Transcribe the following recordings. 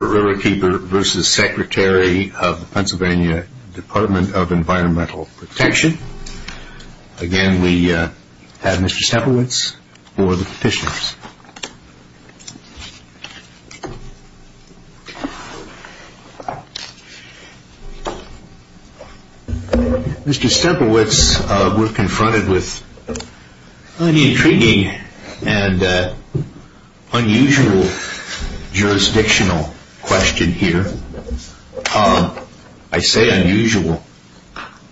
of Environmental Protection. Again, we have Mr. Stemplewitz for the petitions. Mr. Stemplewitz, we're confronted with an intriguing and unusual jurisdictional question here. I say unusual,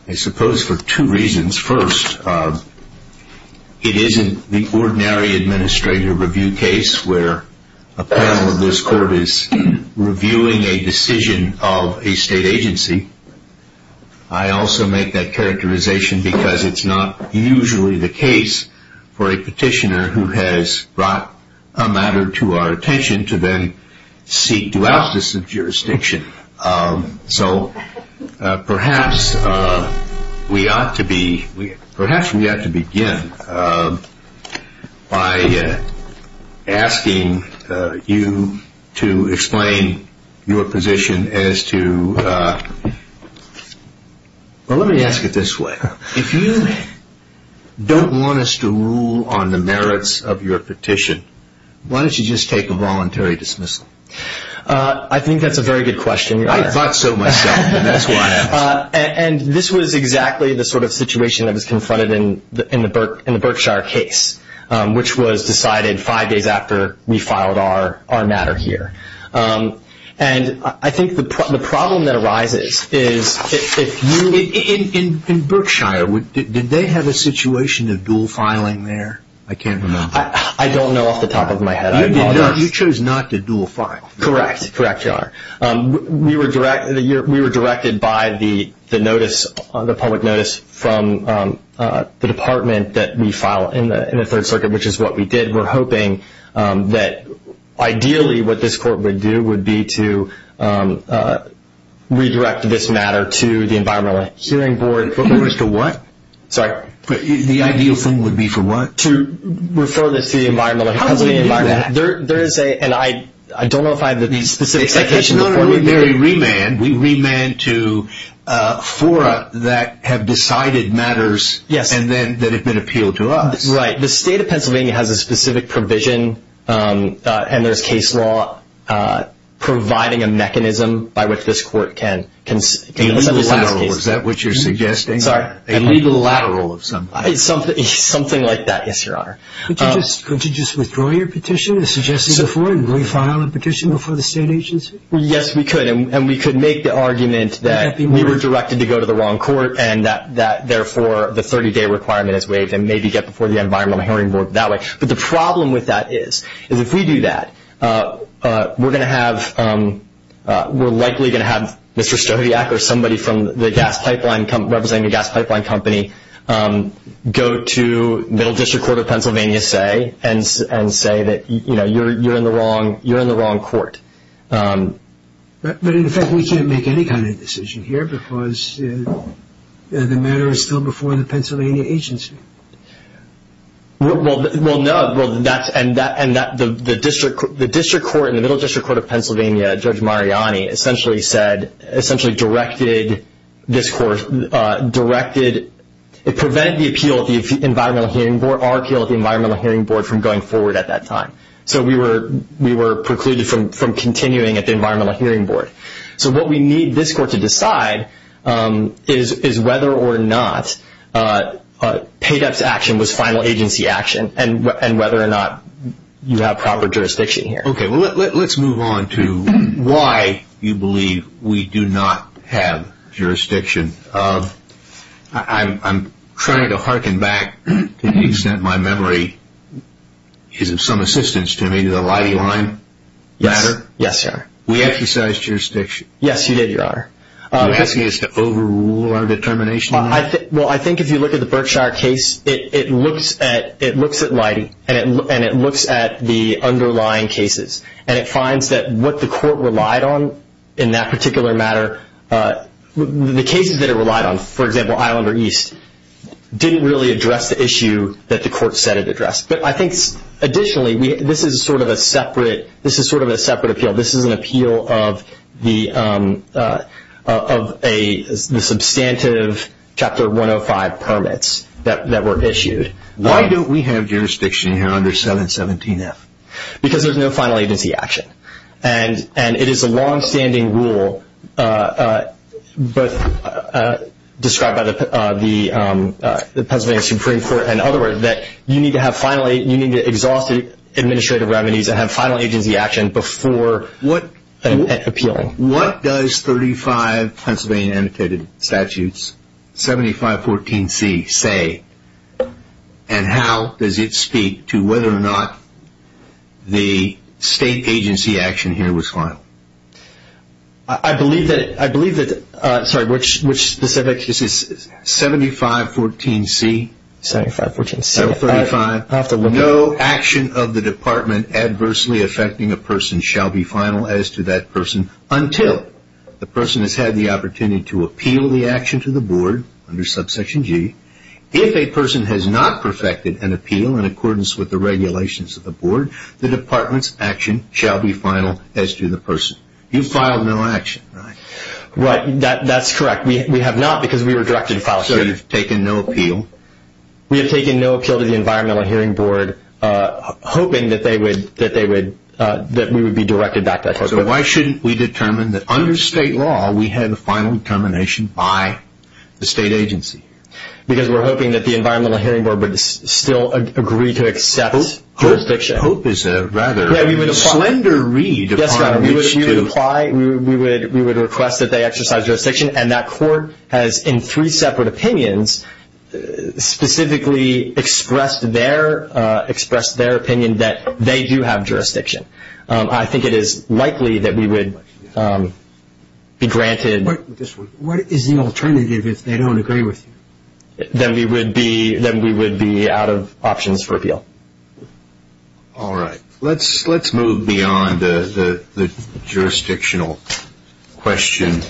I suppose for two reasons. First, it isn't the ordinary administrator review case where a panel of this court is reviewing a decision of a state agency. I also make that characterization because it's not usually the case for a petitioner who has brought a matter to our attention to then seek to out this jurisdiction. So perhaps we ought to begin by asking you to explain your position as to, well let me ask you this, of your petition. Why don't you just take a voluntary dismissal? I think that's a very good question. I thought so myself, and that's why I asked. And this was exactly the sort of situation that was confronted in the Berkshire case, which was decided five days after we filed our matter here. And I think the problem that arises is if you... In Berkshire, did they have a situation of dual filing there? I can't remember. I don't know off the top of my head. You chose not to dual file. Correct. We were directed by the public notice from the department that we file in the Third Circuit, which is what we did. We're hoping that ideally what this court would do would be to redirect this matter to the Environmental Healing Board. For what? Sorry? The ideal thing would be for what? To refer this to the Environmental Healing Board. How do we do that? I don't know if I have the specific citation. We remand to fora that have decided matters that have been appealed to us. Right. The state of Pennsylvania has a specific provision and there's case law providing a mechanism by which this court can... A legal lateral. Is that what you're suggesting? Sorry? A legal lateral of some kind. Something like that. Yes, Your Honor. Could you just withdraw your petition as suggested before and re-file a petition before the state agency? Yes, we could. And we could make the argument that we were directed to go to the wrong court and that therefore the 30-day requirement is waived and maybe get before the Environmental Healing Board that way. But the problem with that is if we do that, we're likely going to have Mr. Stodiak or somebody representing the Gas Pipeline Company go to Middle District Court of Pennsylvania and say that you're in the wrong court. But in effect, we can't make any kind of decision here because the matter is still before the Pennsylvania agency. Well, no. And the district court in the Middle District Court of Pennsylvania, Judge Mariani, essentially said, essentially directed this court, directed... It prevented the appeal of the Environmental Healing Board, our appeal of the Environmental Healing Board from going forward at that time. So we were precluded from continuing at the Environmental Healing Board. So what we need this court to decide is whether or not paid-ups action was final agency action and whether or not you have proper jurisdiction here. Okay. Well, let's move on to why you believe we do not have jurisdiction. I'm trying to harken back to the extent my memory is of some assistance to me to the Leidy line matter. Yes, sir. We exercised jurisdiction. Yes, you did, Your Honor. Are you asking us to overrule our determination? Well, I think if you look at the Berkshire case, it looks at Leidy and it looks at the underlying cases. And it finds that what the court relied on in that particular matter, the cases that it relied on, for example, Islander East, didn't really address the issue that the court said it addressed. But I think additionally, this is sort of a separate appeal. This is an appeal of the substantive Chapter 105 permits that were issued. Why don't we have jurisdiction here under 717F? Because there's no final agency action. And it is a longstanding rule described by the Pennsylvania Supreme Court, in other words, that you need to exhaust administrative revenues and have final agency action before appealing. What does 35 Pennsylvania annotated statutes, 7514C, say? And how does it speak to whether or not the state agency action here was final? I believe that, sorry, which specific? 7514C. 7514C. 7514C. No action of the department adversely affecting a person shall be final as to that person until the person has had the opportunity to appeal the action to the board under subsection G. If a person has not perfected an appeal in accordance with the regulations of the board, the department's action shall be final as to the person. You filed no action, right? That's correct. We have not because we were directed to file. So you've taken no appeal? We have taken no appeal to the Environmental Hearing Board, hoping that we would be directed back to that person. So why shouldn't we determine that under state law we have the final determination by the state agency? Because we're hoping that the Environmental Hearing Board would still agree to accept jurisdiction. Hope is a rather slender read. Yes, sir. We would apply. We would request that they exercise jurisdiction, and that court has in three separate opinions specifically expressed their opinion that they do have jurisdiction. I think it is likely that we would be granted. What is the alternative if they don't agree with you? Then we would be out of options for appeal. All right. Let's move beyond the jurisdictional question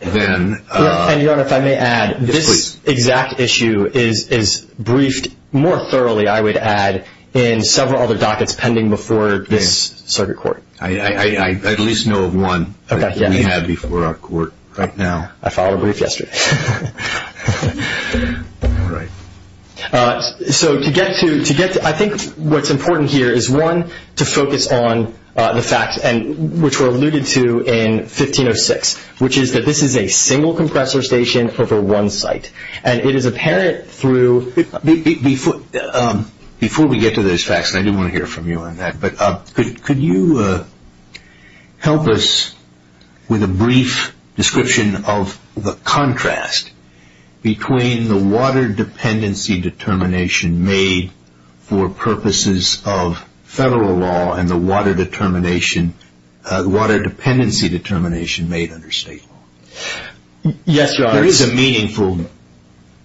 then. Your Honor, if I may add, this exact issue is briefed more thoroughly, I would add, in several other dockets pending before this circuit court. I at least know of one that we have before our court right now. I filed a brief yesterday. I think what's important here is, one, to focus on the facts, which were alluded to in 1506, which is that this is a single compressor station over one site, and it is apparent through. Before we get to those facts, and I do want to hear from you on that, but could you help us with a brief description of the contrast between the water dependency determination made for purposes of federal law and the water dependency determination made under state law? Yes, Your Honor. There is a meaningful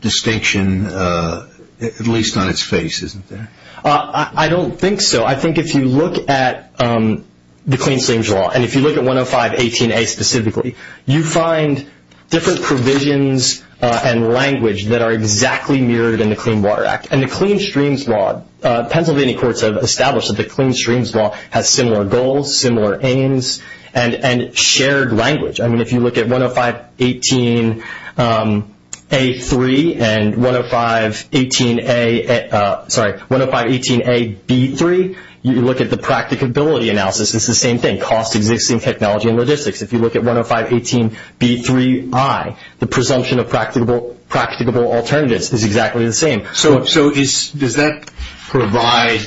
distinction, at least on its face, isn't there? I don't think so. I think if you look at the Clean Streams Law, and if you look at 10518A specifically, you find different provisions and language that are exactly mirrored in the Clean Water Act. And the Clean Streams Law, Pennsylvania courts have established that the Clean Streams Law has similar goals, similar aims, and shared language. I mean, if you look at 10518A-3 and 10518A-B-3, you look at the practicability analysis, it's the same thing, cost, existing technology, and logistics. If you look at 10518B-3-I, the presumption of practicable alternatives is exactly the same. So does that provide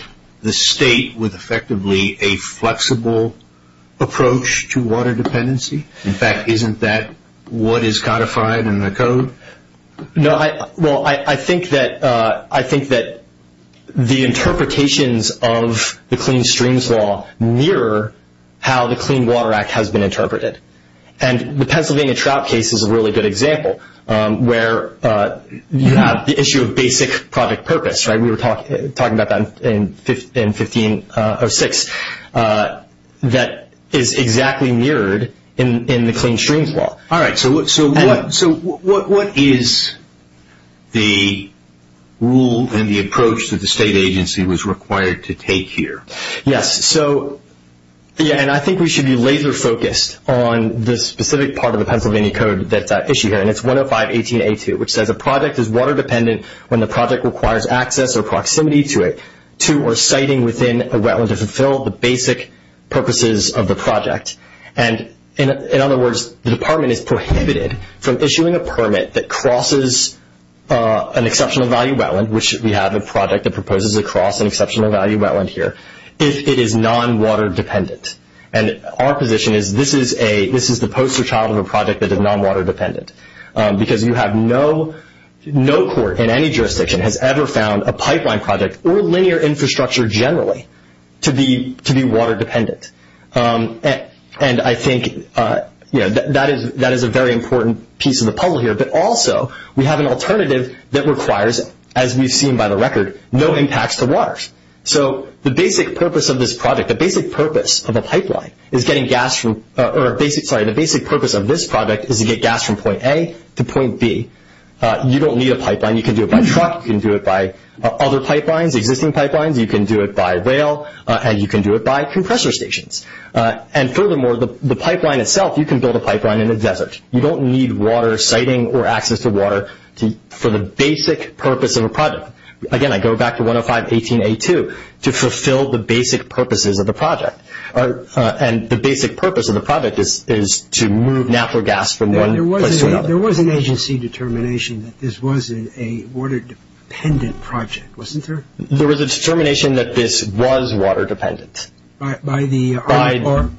the state with effectively a flexible approach to water dependency? In fact, isn't that what is codified in the code? No. Well, I think that the interpretations of the Clean Streams Law mirror how the Clean Water Act has been interpreted. And the Pennsylvania trout case is a really good example where you have the issue of basic project purpose. We were talking about that in 1506. That is exactly mirrored in the Clean Streams Law. All right. So what is the rule and the approach that the state agency was required to take here? Yes. So, yeah, and I think we should be laser focused on the specific part of the Pennsylvania code that's at issue here. And it's 10518A-2, which says, a project is water dependent when the project requires access or proximity to it, to or siting within a wetland to fulfill the basic purposes of the project. And, in other words, the department is prohibited from issuing a permit that crosses an exceptional value wetland, which we have a project that proposes a cross an exceptional value wetland here, if it is non-water dependent. And our position is this is the poster child of a project that is non-water dependent. Because you have no court in any jurisdiction has ever found a pipeline project or linear infrastructure generally to be water dependent. And I think that is a very important piece of the puzzle here. But also we have an alternative that requires, as we've seen by the record, no impacts to waters. So the basic purpose of this project, the basic purpose of a pipeline is getting gas from, or sorry, the basic purpose of this project is to get gas from point A to point B. You don't need a pipeline. You can do it by truck. You can do it by other pipelines, existing pipelines. You can do it by rail. And you can do it by compressor stations. And furthermore, the pipeline itself, you can build a pipeline in a desert. You don't need water siting or access to water for the basic purpose of a project. Again, I go back to 105.18.A.2 to fulfill the basic purposes of the project. And the basic purpose of the project is to move natural gas from one place to another. There was an agency determination that this was a water dependent project, wasn't there? There was a determination that this was water dependent. By the Army Corps?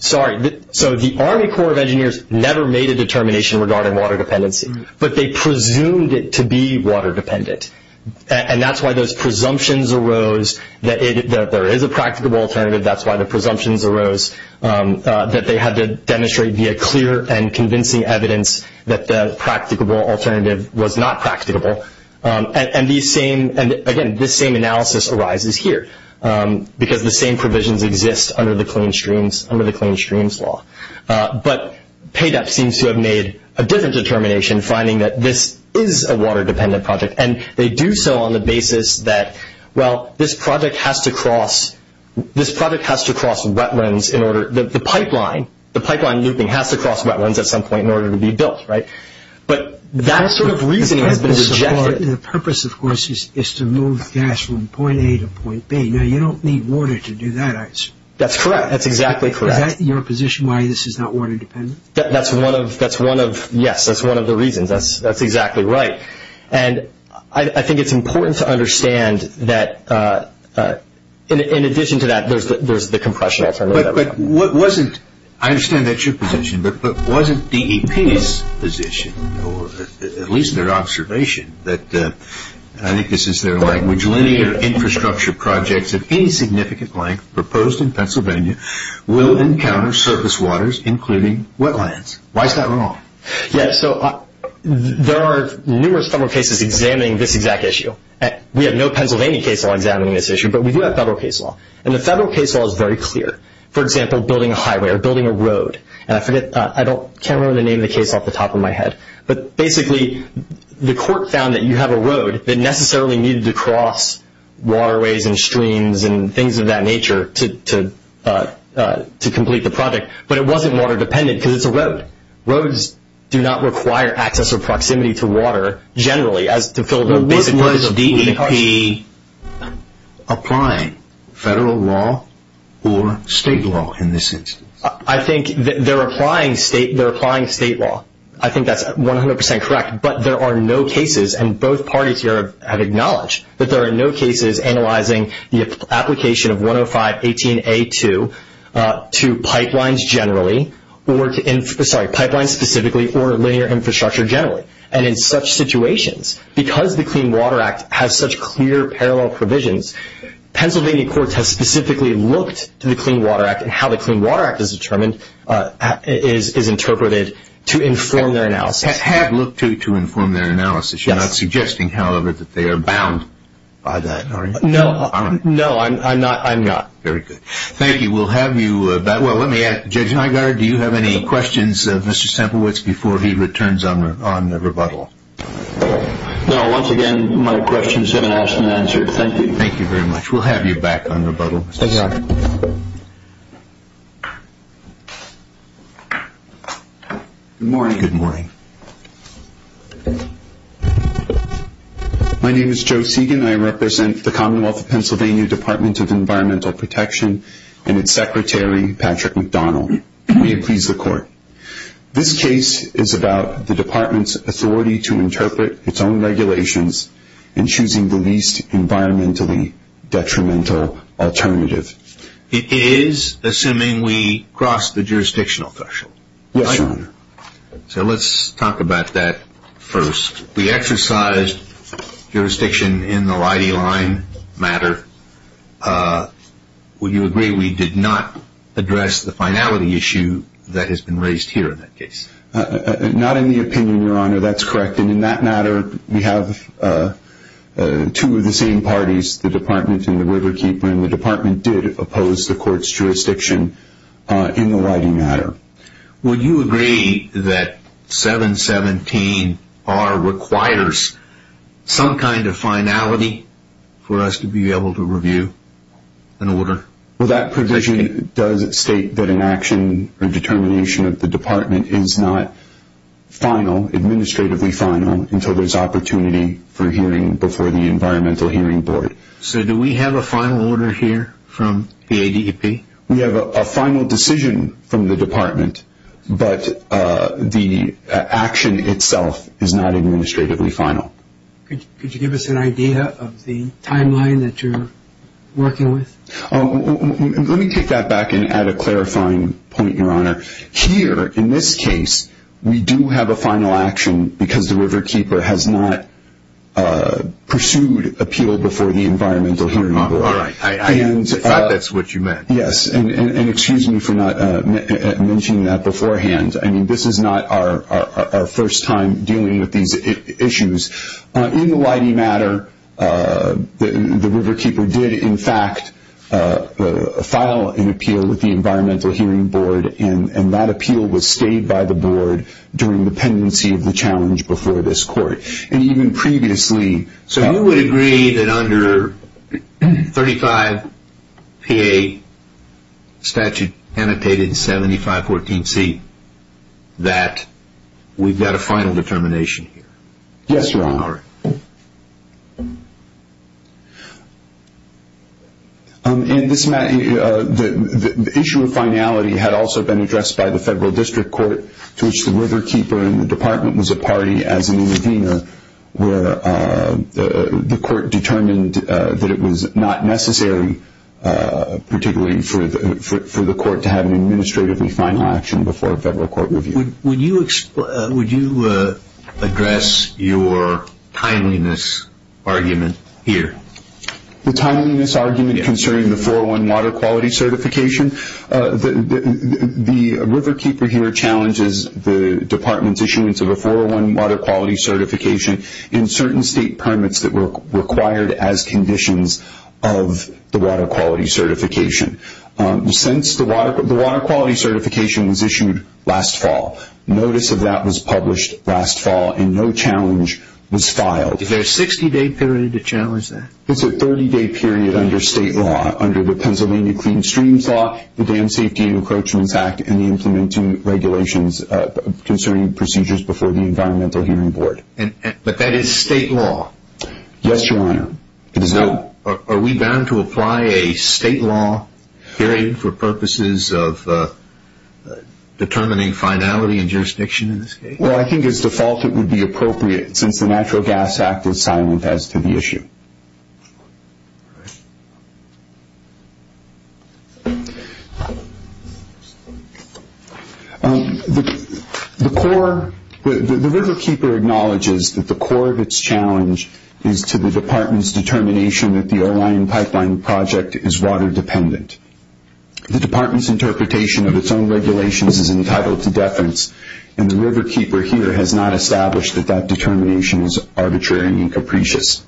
The Corps of Engineers never made a determination regarding water dependency, but they presumed it to be water dependent. And that's why those presumptions arose that there is a practicable alternative. That's why the presumptions arose that they had to demonstrate via clear and convincing evidence that the practicable alternative was not practicable. And, again, this same analysis arises here because the same provisions exist under the Clean Streams Law. But PADEP seems to have made a different determination, finding that this is a water dependent project. And they do so on the basis that, well, this project has to cross wetlands in order – the pipeline, the pipeline looping has to cross wetlands at some point in order to be built, right? But that sort of reasoning has been rejected. The purpose, of course, is to move gas from point A to point B. Now, you don't need water to do that, I assume. That's correct. That's exactly correct. Is that your position, why this is not water dependent? That's one of – yes, that's one of the reasons. That's exactly right. And I think it's important to understand that, in addition to that, there's the compression alternative. But wasn't – I understand that's your position, but wasn't DEP's position, or at least their observation, that – I think this is their line – which linear infrastructure projects of any significant length proposed in Pennsylvania will encounter surface waters, including wetlands? Why is that wrong? Yes, so there are numerous federal cases examining this exact issue. We have no Pennsylvania case law examining this issue, but we do have federal case law. And the federal case law is very clear. For example, building a highway or building a road. And I forget – I can't remember the name of the case off the top of my head. But basically, the court found that you have a road that necessarily needed to cross waterways and streams and things of that nature to complete the project. But it wasn't water dependent because it's a road. Roads do not require access or proximity to water, generally, as to fill the basic needs of the country. But was DEP applying federal law or state law in this instance? I think they're applying state law. I think that's 100 percent correct. But there are no cases – and both parties here have acknowledged – that there are no cases analyzing the application of 10518A2 to pipelines generally – sorry, pipelines specifically or linear infrastructure generally. And in such situations, because the Clean Water Act has such clear parallel provisions, Pennsylvania courts have specifically looked to the Clean Water Act as interpreted to inform their analysis. Have looked to inform their analysis. Yes. You're not suggesting, however, that they are bound by that, are you? No. No, I'm not. Very good. Thank you. We'll have you back. Well, let me ask Judge Nygaard, do you have any questions of Mr. Semplewicz before he returns on the rebuttal? No. Once again, my questions have been asked and answered. Thank you. Thank you very much. We'll have you back on rebuttal. Thank you, Your Honor. Good morning. Good morning. My name is Joe Segan. I represent the Commonwealth of Pennsylvania Department of Environmental Protection and its Secretary, Patrick McDonald. May it please the Court. This case is about the Department's authority to interpret its own regulations in choosing the least environmentally detrimental alternative. It is, assuming we cross the jurisdictional threshold, right? Yes, Your Honor. So let's talk about that first. We exercised jurisdiction in the LIDI line matter. Would you agree we did not address the finality issue that has been raised here in that case? Not in the opinion, Your Honor. That's correct. And in that matter, we have two of the same parties, the Department and the Riverkeeper, and the Department did oppose the Court's jurisdiction in the LIDI matter. Would you agree that 717R requires some kind of finality for us to be able to review an order? Well, that provision does state that an action or determination of the Department is not final, administratively final, until there's opportunity for hearing before the Environmental Hearing Board. Okay. So do we have a final order here from the ADEP? We have a final decision from the Department, but the action itself is not administratively final. Could you give us an idea of the timeline that you're working with? Let me take that back and add a clarifying point, Your Honor. Here, in this case, we do have a final action because the Riverkeeper has not pursued appeal before the Environmental Hearing Board. All right. I thought that's what you meant. Yes. And excuse me for not mentioning that beforehand. I mean, this is not our first time dealing with these issues. In the LIDI matter, the Riverkeeper did, in fact, file an appeal with the Environmental Hearing Board and that appeal was stayed by the board during the pendency of the challenge before this court. And even previously. So you would agree that under 35PA, statute annotated 7514C, that we've got a final determination here? Yes, Your Honor. And the issue of finality had also been addressed by the Federal District Court, to which the Riverkeeper and the Department was a party as an intervener where the court determined that it was not necessary, particularly for the court to have an administratively final action before a federal court review. Would you address your timeliness argument here? The timeliness argument concerning the 401 Water Quality Certification? The Riverkeeper here challenges the Department's issuance of a 401 Water Quality Certification in certain state permits that were required as conditions of the Water Quality Certification. Since the Water Quality Certification was issued last fall, notice of that was published last fall and no challenge was filed. Is there a 60-day period to challenge that? It's a 30-day period under state law, under the Pennsylvania Clean Streams Law, the Dam Safety and Encroachments Act, and the implementing regulations concerning procedures before the Environmental Hearing Board. But that is state law? Yes, Your Honor. Are we bound to apply a state law period for purposes of determining finality and jurisdiction in this case? Well, I think as default it would be appropriate since the Natural Gas Act is silent as to the issue. All right. The Riverkeeper acknowledges that the core of its challenge is to the Department's determination that the O-Line Pipeline Project is water dependent. The Department's interpretation of its own regulations is entitled to deference, and the Riverkeeper here has not established that that determination is arbitrary and incapricious.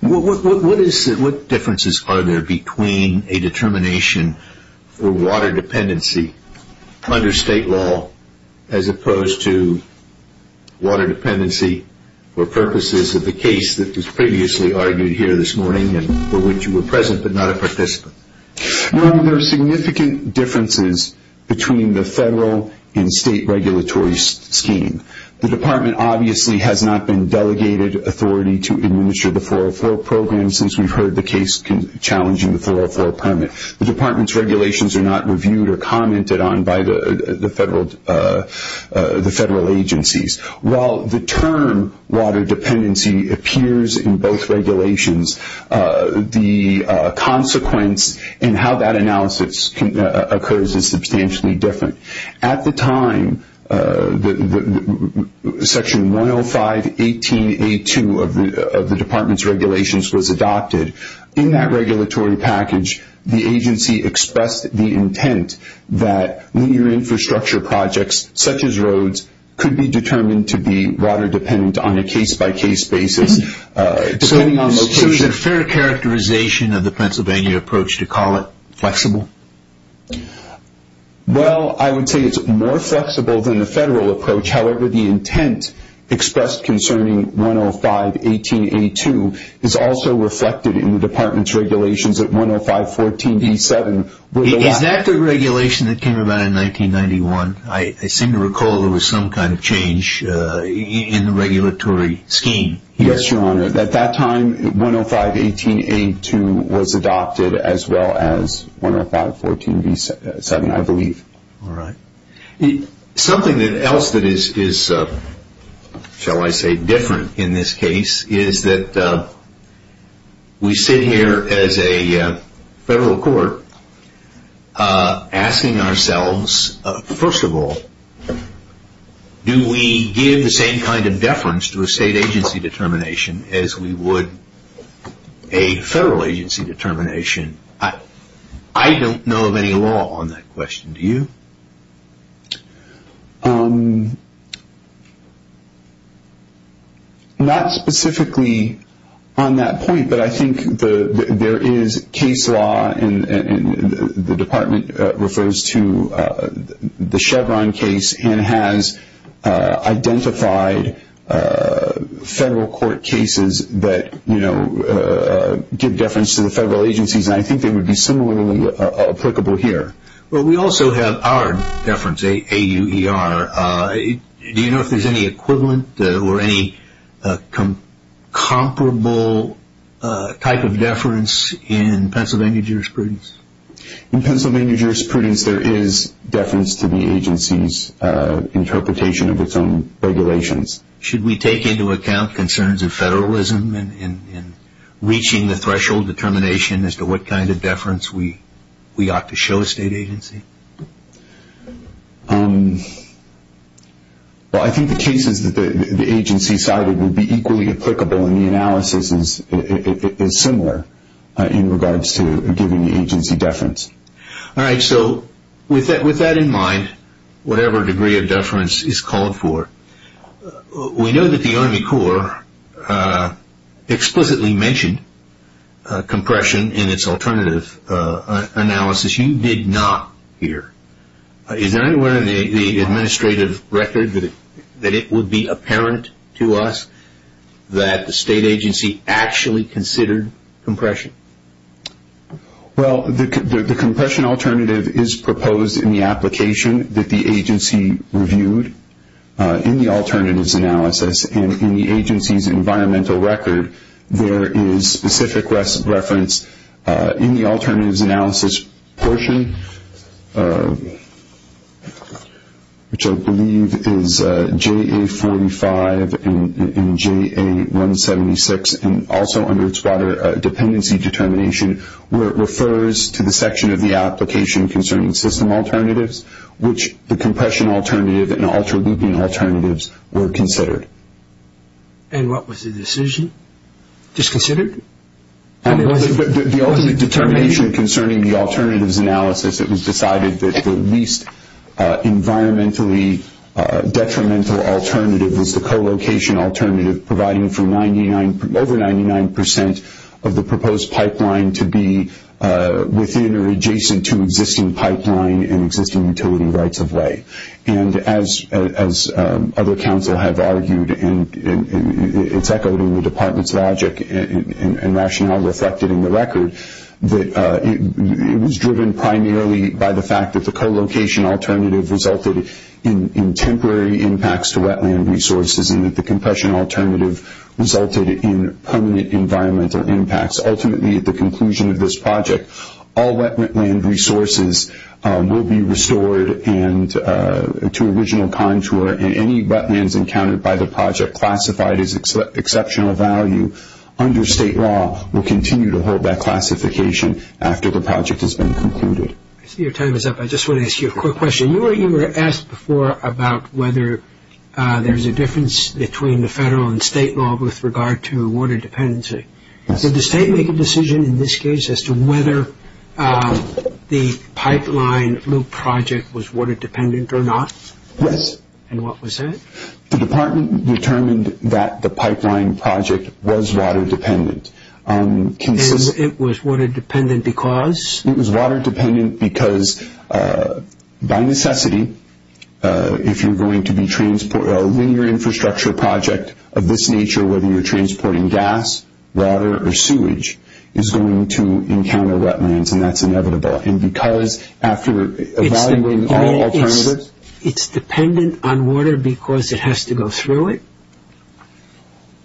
What differences are there between a determination for water dependency under state law as opposed to water dependency for purposes of the case that was previously argued here this morning and for which you were present but not a participant? Your Honor, there are significant differences between the federal and state regulatory scheme. The Department obviously has not been delegated authority to administer the 404 program since we've heard the case challenging the 404 permit. The Department's regulations are not reviewed or commented on by the federal agencies. While the term water dependency appears in both regulations, the consequence in how that analysis occurs is substantially different. At the time, Section 105.18.A.2 of the Department's regulations was adopted. In that regulatory package, the agency expressed the intent that linear infrastructure projects, such as roads, could be determined to be water dependent on a case-by-case basis. So is it a fair characterization of the Pennsylvania approach to call it flexible? Well, I would say it's more flexible than the federal approach. However, the intent expressed concerning 105.18.A.2 is also reflected in the Department's regulations at 105.14.B.7. Is that the regulation that came about in 1991? I seem to recall there was some kind of change in the regulatory scheme. Yes, Your Honor. At that time, 105.18.A.2 was adopted as well as 105.14.B.7, I believe. All right. Something else that is, shall I say, different in this case is that we sit here as a federal court asking ourselves, first of all, do we give the same kind of deference to a state agency determination as we would a federal agency determination? I don't know of any law on that question. Do you? Not specifically on that point, but I think there is case law, and the Department refers to the Chevron case and has identified federal court cases that give deference to the federal agencies, and I think they would be similarly applicable here. Well, we also have our deference, AUER. Do you know if there is any equivalent or any comparable type of deference in Pennsylvania jurisprudence? In Pennsylvania jurisprudence, there is deference to the agency's interpretation of its own regulations. Should we take into account concerns of federalism in reaching the threshold determination as to what kind of deference we ought to show a state agency? Well, I think the cases that the agency cited would be equally applicable, and the analysis is similar in regards to giving the agency deference. All right, so with that in mind, whatever degree of deference is called for, we know that the Army Corps explicitly mentioned compression in its alternative analysis. You did not here. Is there anywhere in the administrative record that it would be apparent to us that the state agency actually considered compression? Well, the compression alternative is proposed in the application that the agency reviewed in the alternatives analysis, and in the agency's environmental record, there is specific reference in the alternatives analysis portion, which I believe is JA45 and JA176, and also under its water dependency determination, where it refers to the section of the application concerning system alternatives, which the compression alternative and ultra-looping alternatives were considered. And what was the decision? Disconsidered? The ultimate determination concerning the alternatives analysis, it was decided that the least environmentally detrimental alternative was the co-location alternative, providing for over 99 percent of the proposed pipeline to be within or adjacent to existing pipeline and existing utility rights of way. And as other council have argued, and it's echoed in the department's logic and rationale reflected in the record, it was driven primarily by the fact that the co-location alternative resulted in temporary impacts to wetland resources and that the compression alternative resulted in permanent environmental impacts. Ultimately, at the conclusion of this project, all wetland resources will be restored to original contour, and any wetlands encountered by the project classified as exceptional value under state law will continue to hold that classification after the project has been concluded. I see your time is up. I just want to ask you a quick question. You were asked before about whether there's a difference between the federal and state law with regard to water dependency. Did the state make a decision in this case as to whether the pipeline loop project was water dependent or not? Yes. And what was that? The department determined that the pipeline project was water dependent. And it was water dependent because? It was water dependent because by necessity, if you're going to be transporting a linear infrastructure project of this nature, whether you're transporting gas, water, or sewage, is going to encounter wetlands, and that's inevitable. And because after evaluating all alternatives. It's dependent on water because it has to go through it?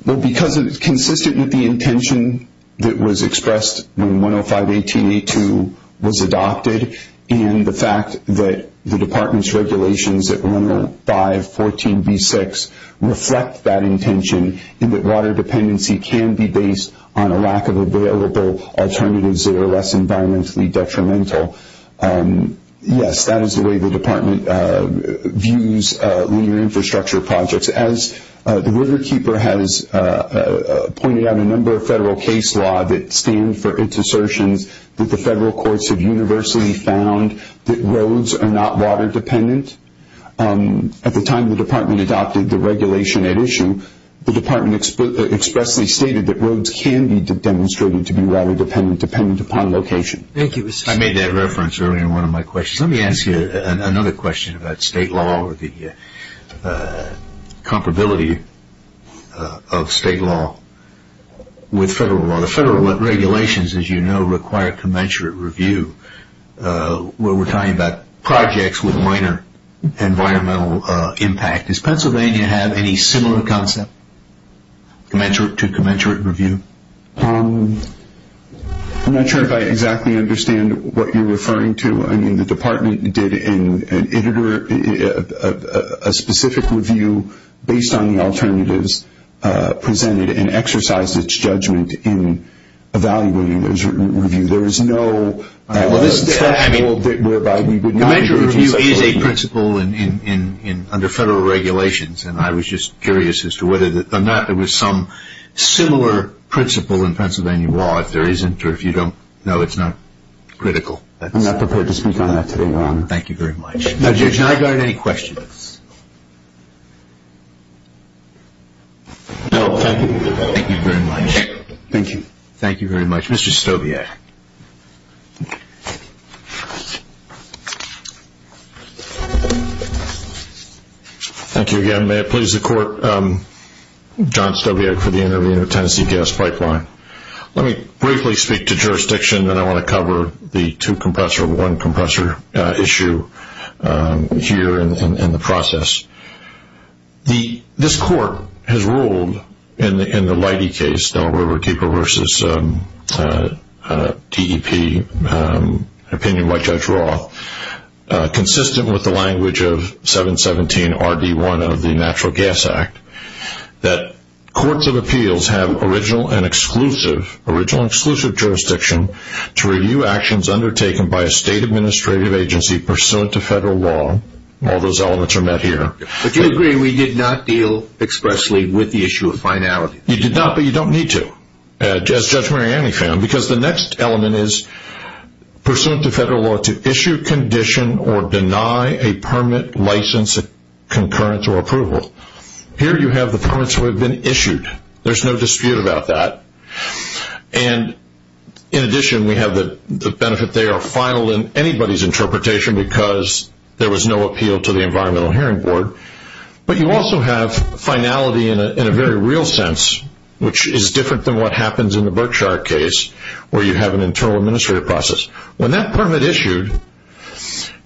Well, because it's consistent with the intention that was expressed when 105-18-82 was adopted and the fact that the department's regulations at 105-14-B-6 reflect that intention and that water dependency can be based on a lack of available alternatives that are less environmentally detrimental. Yes, that is the way the department views linear infrastructure projects. As the Riverkeeper has pointed out, a number of federal case law that stand for its assertions that the federal courts have universally found that roads are not water dependent. At the time the department adopted the regulation at issue, the department expressly stated that roads can be demonstrated to be water dependent, dependent upon location. Thank you. I made that reference earlier in one of my questions. Let me ask you another question about state law or the comparability of state law with federal law. The federal regulations, as you know, require commensurate review. We're talking about projects with minor environmental impact. Does Pennsylvania have any similar concept to commensurate review? I'm not sure if I exactly understand what you're referring to. The department did a specific review based on the alternatives presented and exercised its judgment in evaluating those reviews. There is no other principle whereby we would not use commensurate review. Commensurate review is a principle under federal regulations, and I was just curious as to whether or not there was some similar principle in Pennsylvania law. If there isn't or if you don't know, it's not critical. I'm not prepared to speak on that today, Your Honor. Thank you very much. Now, Judge, can I guard any questions? No, thank you. Thank you very much. Thank you. Thank you very much. Mr. Stobiak. Thank you again. May it please the Court, I'm John Stobiak for the Intervenor Tennessee Gas Pipeline. Let me briefly speak to jurisdiction, and then I want to cover the two-compressor, one-compressor issue here in the process. This Court has ruled in the Leidy case, Delaware Riverkeeper v. DEP, an opinion by Judge Roth, consistent with the language of 717RD1 of the Natural Gas Act, that courts of appeals have original and exclusive jurisdiction to review actions undertaken by a state administrative agency pursuant to federal law. All those elements are met here. But you agree we did not deal expressly with the issue of finality. You did not, but you don't need to, as Judge Mariani found, because the next element is pursuant to federal law to issue, condition, or deny a permit, license, concurrence, or approval. Here you have the permits that have been issued. There's no dispute about that. And in addition, we have the benefit they are final in anybody's interpretation because there was no appeal to the Environmental Hearing Board. But you also have finality in a very real sense, which is different than what happens in the Berkshire case, where you have an internal administrative process. When that permit issued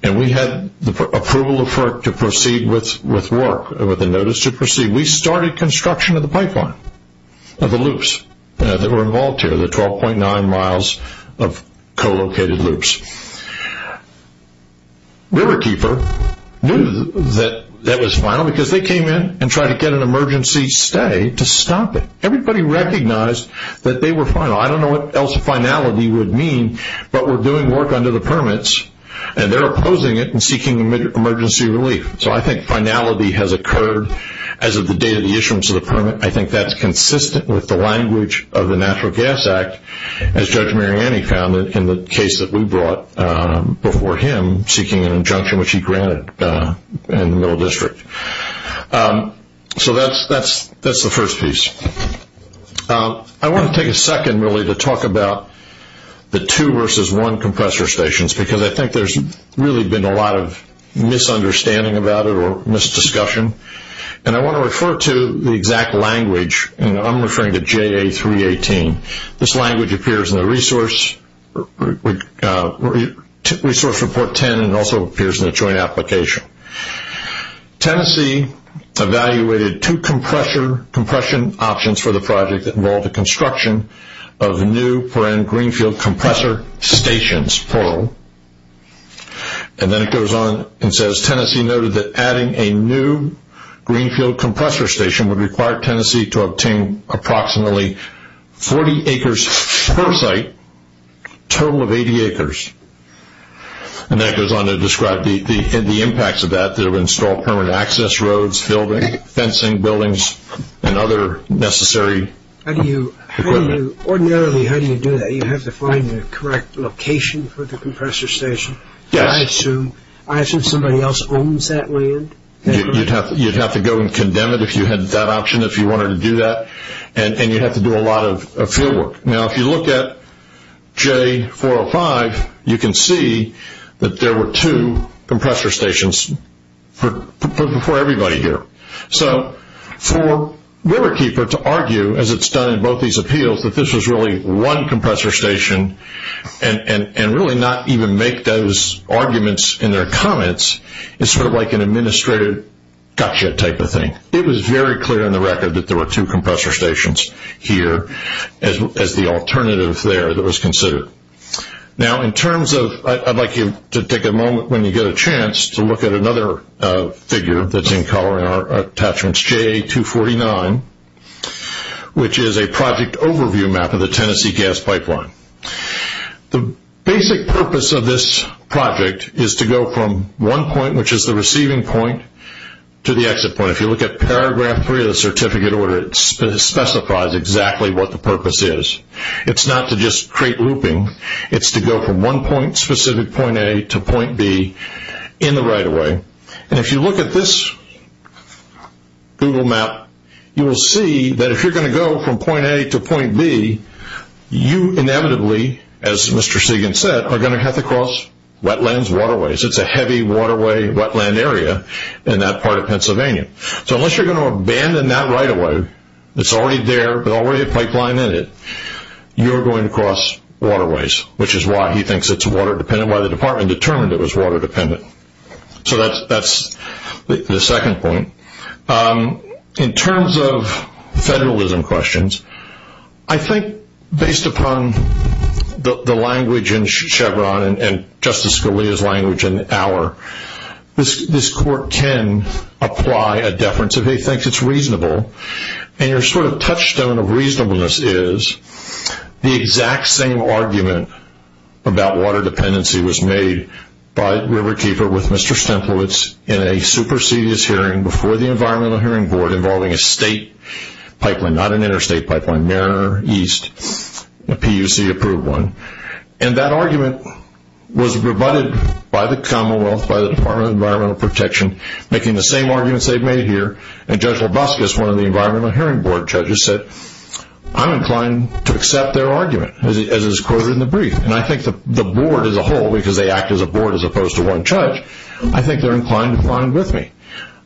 and we had approval to proceed with work, with a notice to proceed, we started construction of the pipeline, of the loops that were involved here, the 12.9 miles of co-located loops. Riverkeeper knew that that was final because they came in and tried to get an emergency stay to stop it. Everybody recognized that they were final. I don't know what else finality would mean, but we're doing work under the permits and they're opposing it and seeking emergency relief. So I think finality has occurred as of the date of the issuance of the permit. I think that's consistent with the language of the Natural Gas Act, as Judge Mariani found it in the case that we brought before him, seeking an injunction which he granted in the Middle District. So that's the first piece. I want to take a second, really, to talk about the two versus one compressor stations because I think there's really been a lot of misunderstanding about it or misdiscussion. And I want to refer to the exact language, and I'm referring to JA318. This language appears in the Resource Report 10 and also appears in the Joint Application. Tennessee evaluated two compression options for the project that involved the construction of new perennial greenfield compressor stations, PERL. And then it goes on and says, Tennessee noted that adding a new greenfield compressor station would require Tennessee to obtain approximately 40 acres per site, total of 80 acres. And then it goes on to describe the impacts of that. They would install permanent access roads, fencing buildings, and other necessary equipment. Ordinarily, how do you do that? You have to find the correct location for the compressor station? Yes. I assume somebody else owns that land? You'd have to go and condemn it if you had that option, if you wanted to do that. And you'd have to do a lot of field work. Now, if you look at J405, you can see that there were two compressor stations for everybody here. So for Riverkeeper to argue, as it's done in both these appeals, that this was really one compressor station and really not even make those arguments in their comments is sort of like an administrative gotcha type of thing. It was very clear on the record that there were two compressor stations here as the alternative there that was considered. Now, in terms of, I'd like you to take a moment when you get a chance to look at another figure that's in color in our attachments, JA249, which is a project overview map of the Tennessee gas pipeline. The basic purpose of this project is to go from one point, which is the receiving point, to the exit point. Now, if you look at paragraph three of the certificate order, it specifies exactly what the purpose is. It's not to just create looping. It's to go from one point, specific point A, to point B in the right-of-way. And if you look at this Google map, you will see that if you're going to go from point A to point B, you inevitably, as Mr. Sagan said, are going to have to cross wetlands, waterways. It's a heavy waterway, wetland area in that part of Pennsylvania. So unless you're going to abandon that right-of-way, it's already there, there's already a pipeline in it, you're going to cross waterways, which is why he thinks it's water-dependent, why the department determined it was water-dependent. So that's the second point. In terms of federalism questions, I think based upon the language in Chevron and Justice Scalia's language in Auer, this court can apply a deference if he thinks it's reasonable. And your sort of touchstone of reasonableness is the exact same argument about water dependency was made by Riverkeeper with Mr. Stemplowitz in a supersedious hearing before the Environmental Hearing Board involving a state pipeline, not an interstate pipeline, Mariner East, a PUC-approved one. And that argument was rebutted by the Commonwealth, by the Department of Environmental Protection, making the same arguments they've made here. And Judge Loboskis, one of the Environmental Hearing Board judges, said, I'm inclined to accept their argument, as is quoted in the brief. And I think the board as a whole, because they act as a board as opposed to one judge, I think they're inclined to find with me.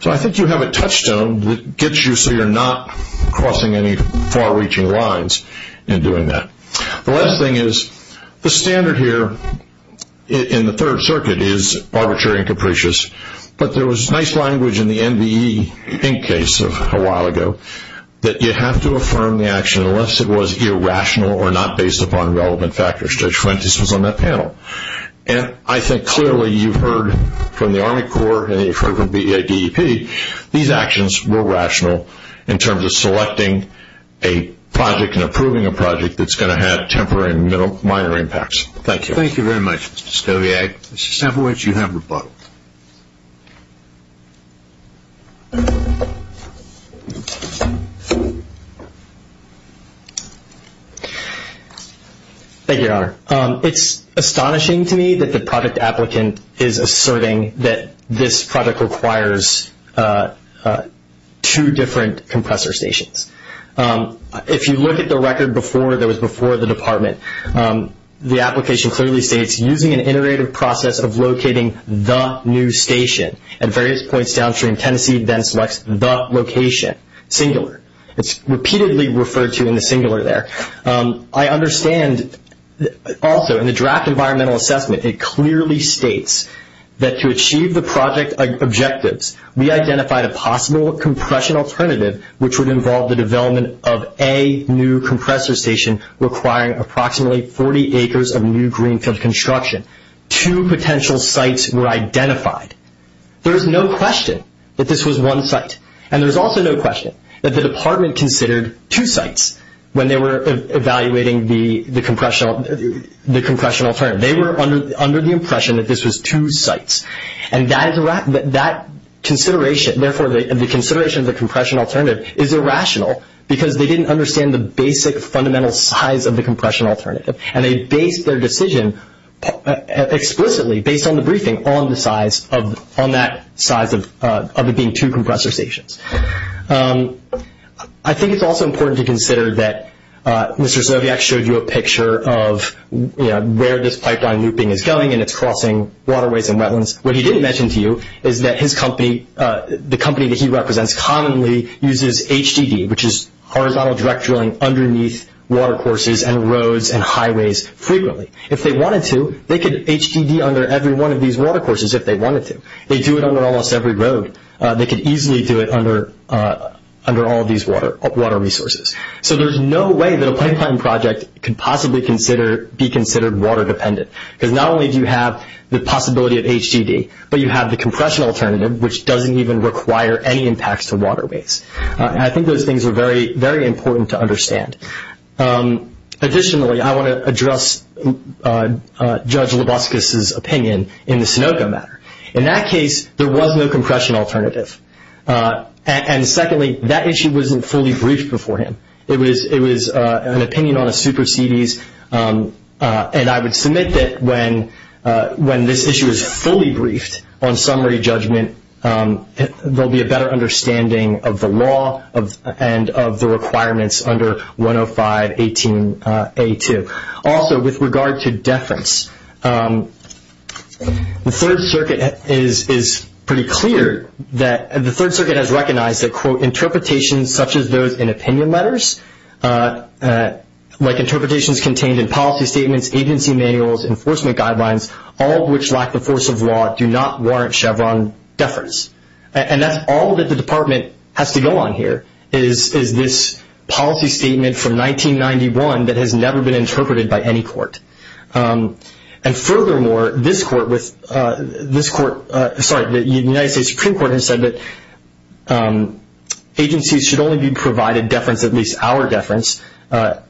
So I think you have a touchstone that gets you so you're not crossing any far-reaching lines in doing that. The last thing is the standard here in the Third Circuit is arbitrary and capricious, but there was nice language in the NBE Inc. case a while ago that you have to affirm the action unless it was irrational or not based upon relevant factors. Judge Fuentes was on that panel. And I think clearly you've heard from the Army Corps and you've heard from the EADEP, these actions were rational in terms of selecting a project and approving a project that's going to have temporary and minor impacts. Thank you. Thank you very much, Mr. Stowiak. Mr. Samowitz, you have rebuttal. Thank you, Your Honor. It's astonishing to me that the project applicant is asserting that this project requires two different compressor stations. If you look at the record that was before the Department, the application clearly states, using an iterative process of locating the new station at various points downstream, Tennessee then selects the location, singular. It's repeatedly referred to in the singular there. I understand also in the draft environmental assessment, it clearly states that to achieve the project objectives, we identified a possible compression alternative which would involve the development of a new compressor station requiring approximately 40 acres of new greenfield construction. Two potential sites were identified. There's no question that this was one site. And there's also no question that the Department considered two sites when they were evaluating the compression alternative. They were under the impression that this was two sites. And that consideration, therefore, the consideration of the compression alternative is irrational because they didn't understand the basic fundamental size of the compression alternative. And they based their decision explicitly, based on the briefing, on that size of it being two compressor stations. I think it's also important to consider that Mr. Stowiak showed you a picture of where this pipeline looping is going and it's crossing waterways and wetlands. What he didn't mention to you is that the company that he represents commonly uses HDD, which is horizontal direct drilling underneath watercourses and roads and highways frequently. If they wanted to, they could HDD under every one of these watercourses if they wanted to. They do it under almost every road. They could easily do it under all of these water resources. So there's no way that a pipeline project could possibly be considered water dependent because not only do you have the possibility of HDD, but you have the compression alternative, which doesn't even require any impacts to waterways. And I think those things are very, very important to understand. Additionally, I want to address Judge Loboskis' opinion in the Sunoco matter. In that case, there was no compression alternative. And secondly, that issue wasn't fully briefed before him. It was an opinion on a supersedes, and I would submit that when this issue is fully briefed on summary judgment, there will be a better understanding of the law and of the requirements under 10518A2. Also, with regard to deference, the Third Circuit is pretty clear that the Third Circuit has recognized that, quote, interpretations such as those in opinion letters, like interpretations contained in policy statements, agency manuals, enforcement guidelines, all of which lack the force of law, do not warrant Chevron deference. And that's all that the Department has to go on here is this policy statement from 1991 that has never been interpreted by any court. And furthermore, the United States Supreme Court has said that agencies should only be provided deference, at least our deference, proportional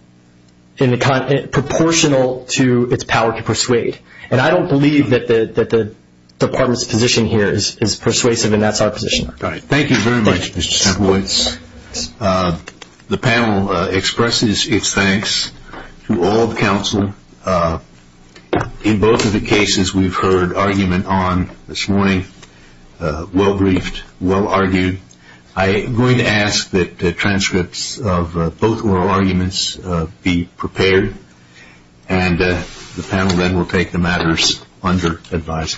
to its power to persuade. And I don't believe that the Department's position here is persuasive, and that's our position. Thank you very much, Mr. Semplewitz. The panel expresses its thanks to all of counsel. In both of the cases we've heard argument on this morning, well briefed, well argued, I am going to ask that transcripts of both oral arguments be prepared, and the panel then will take the matters under advisement.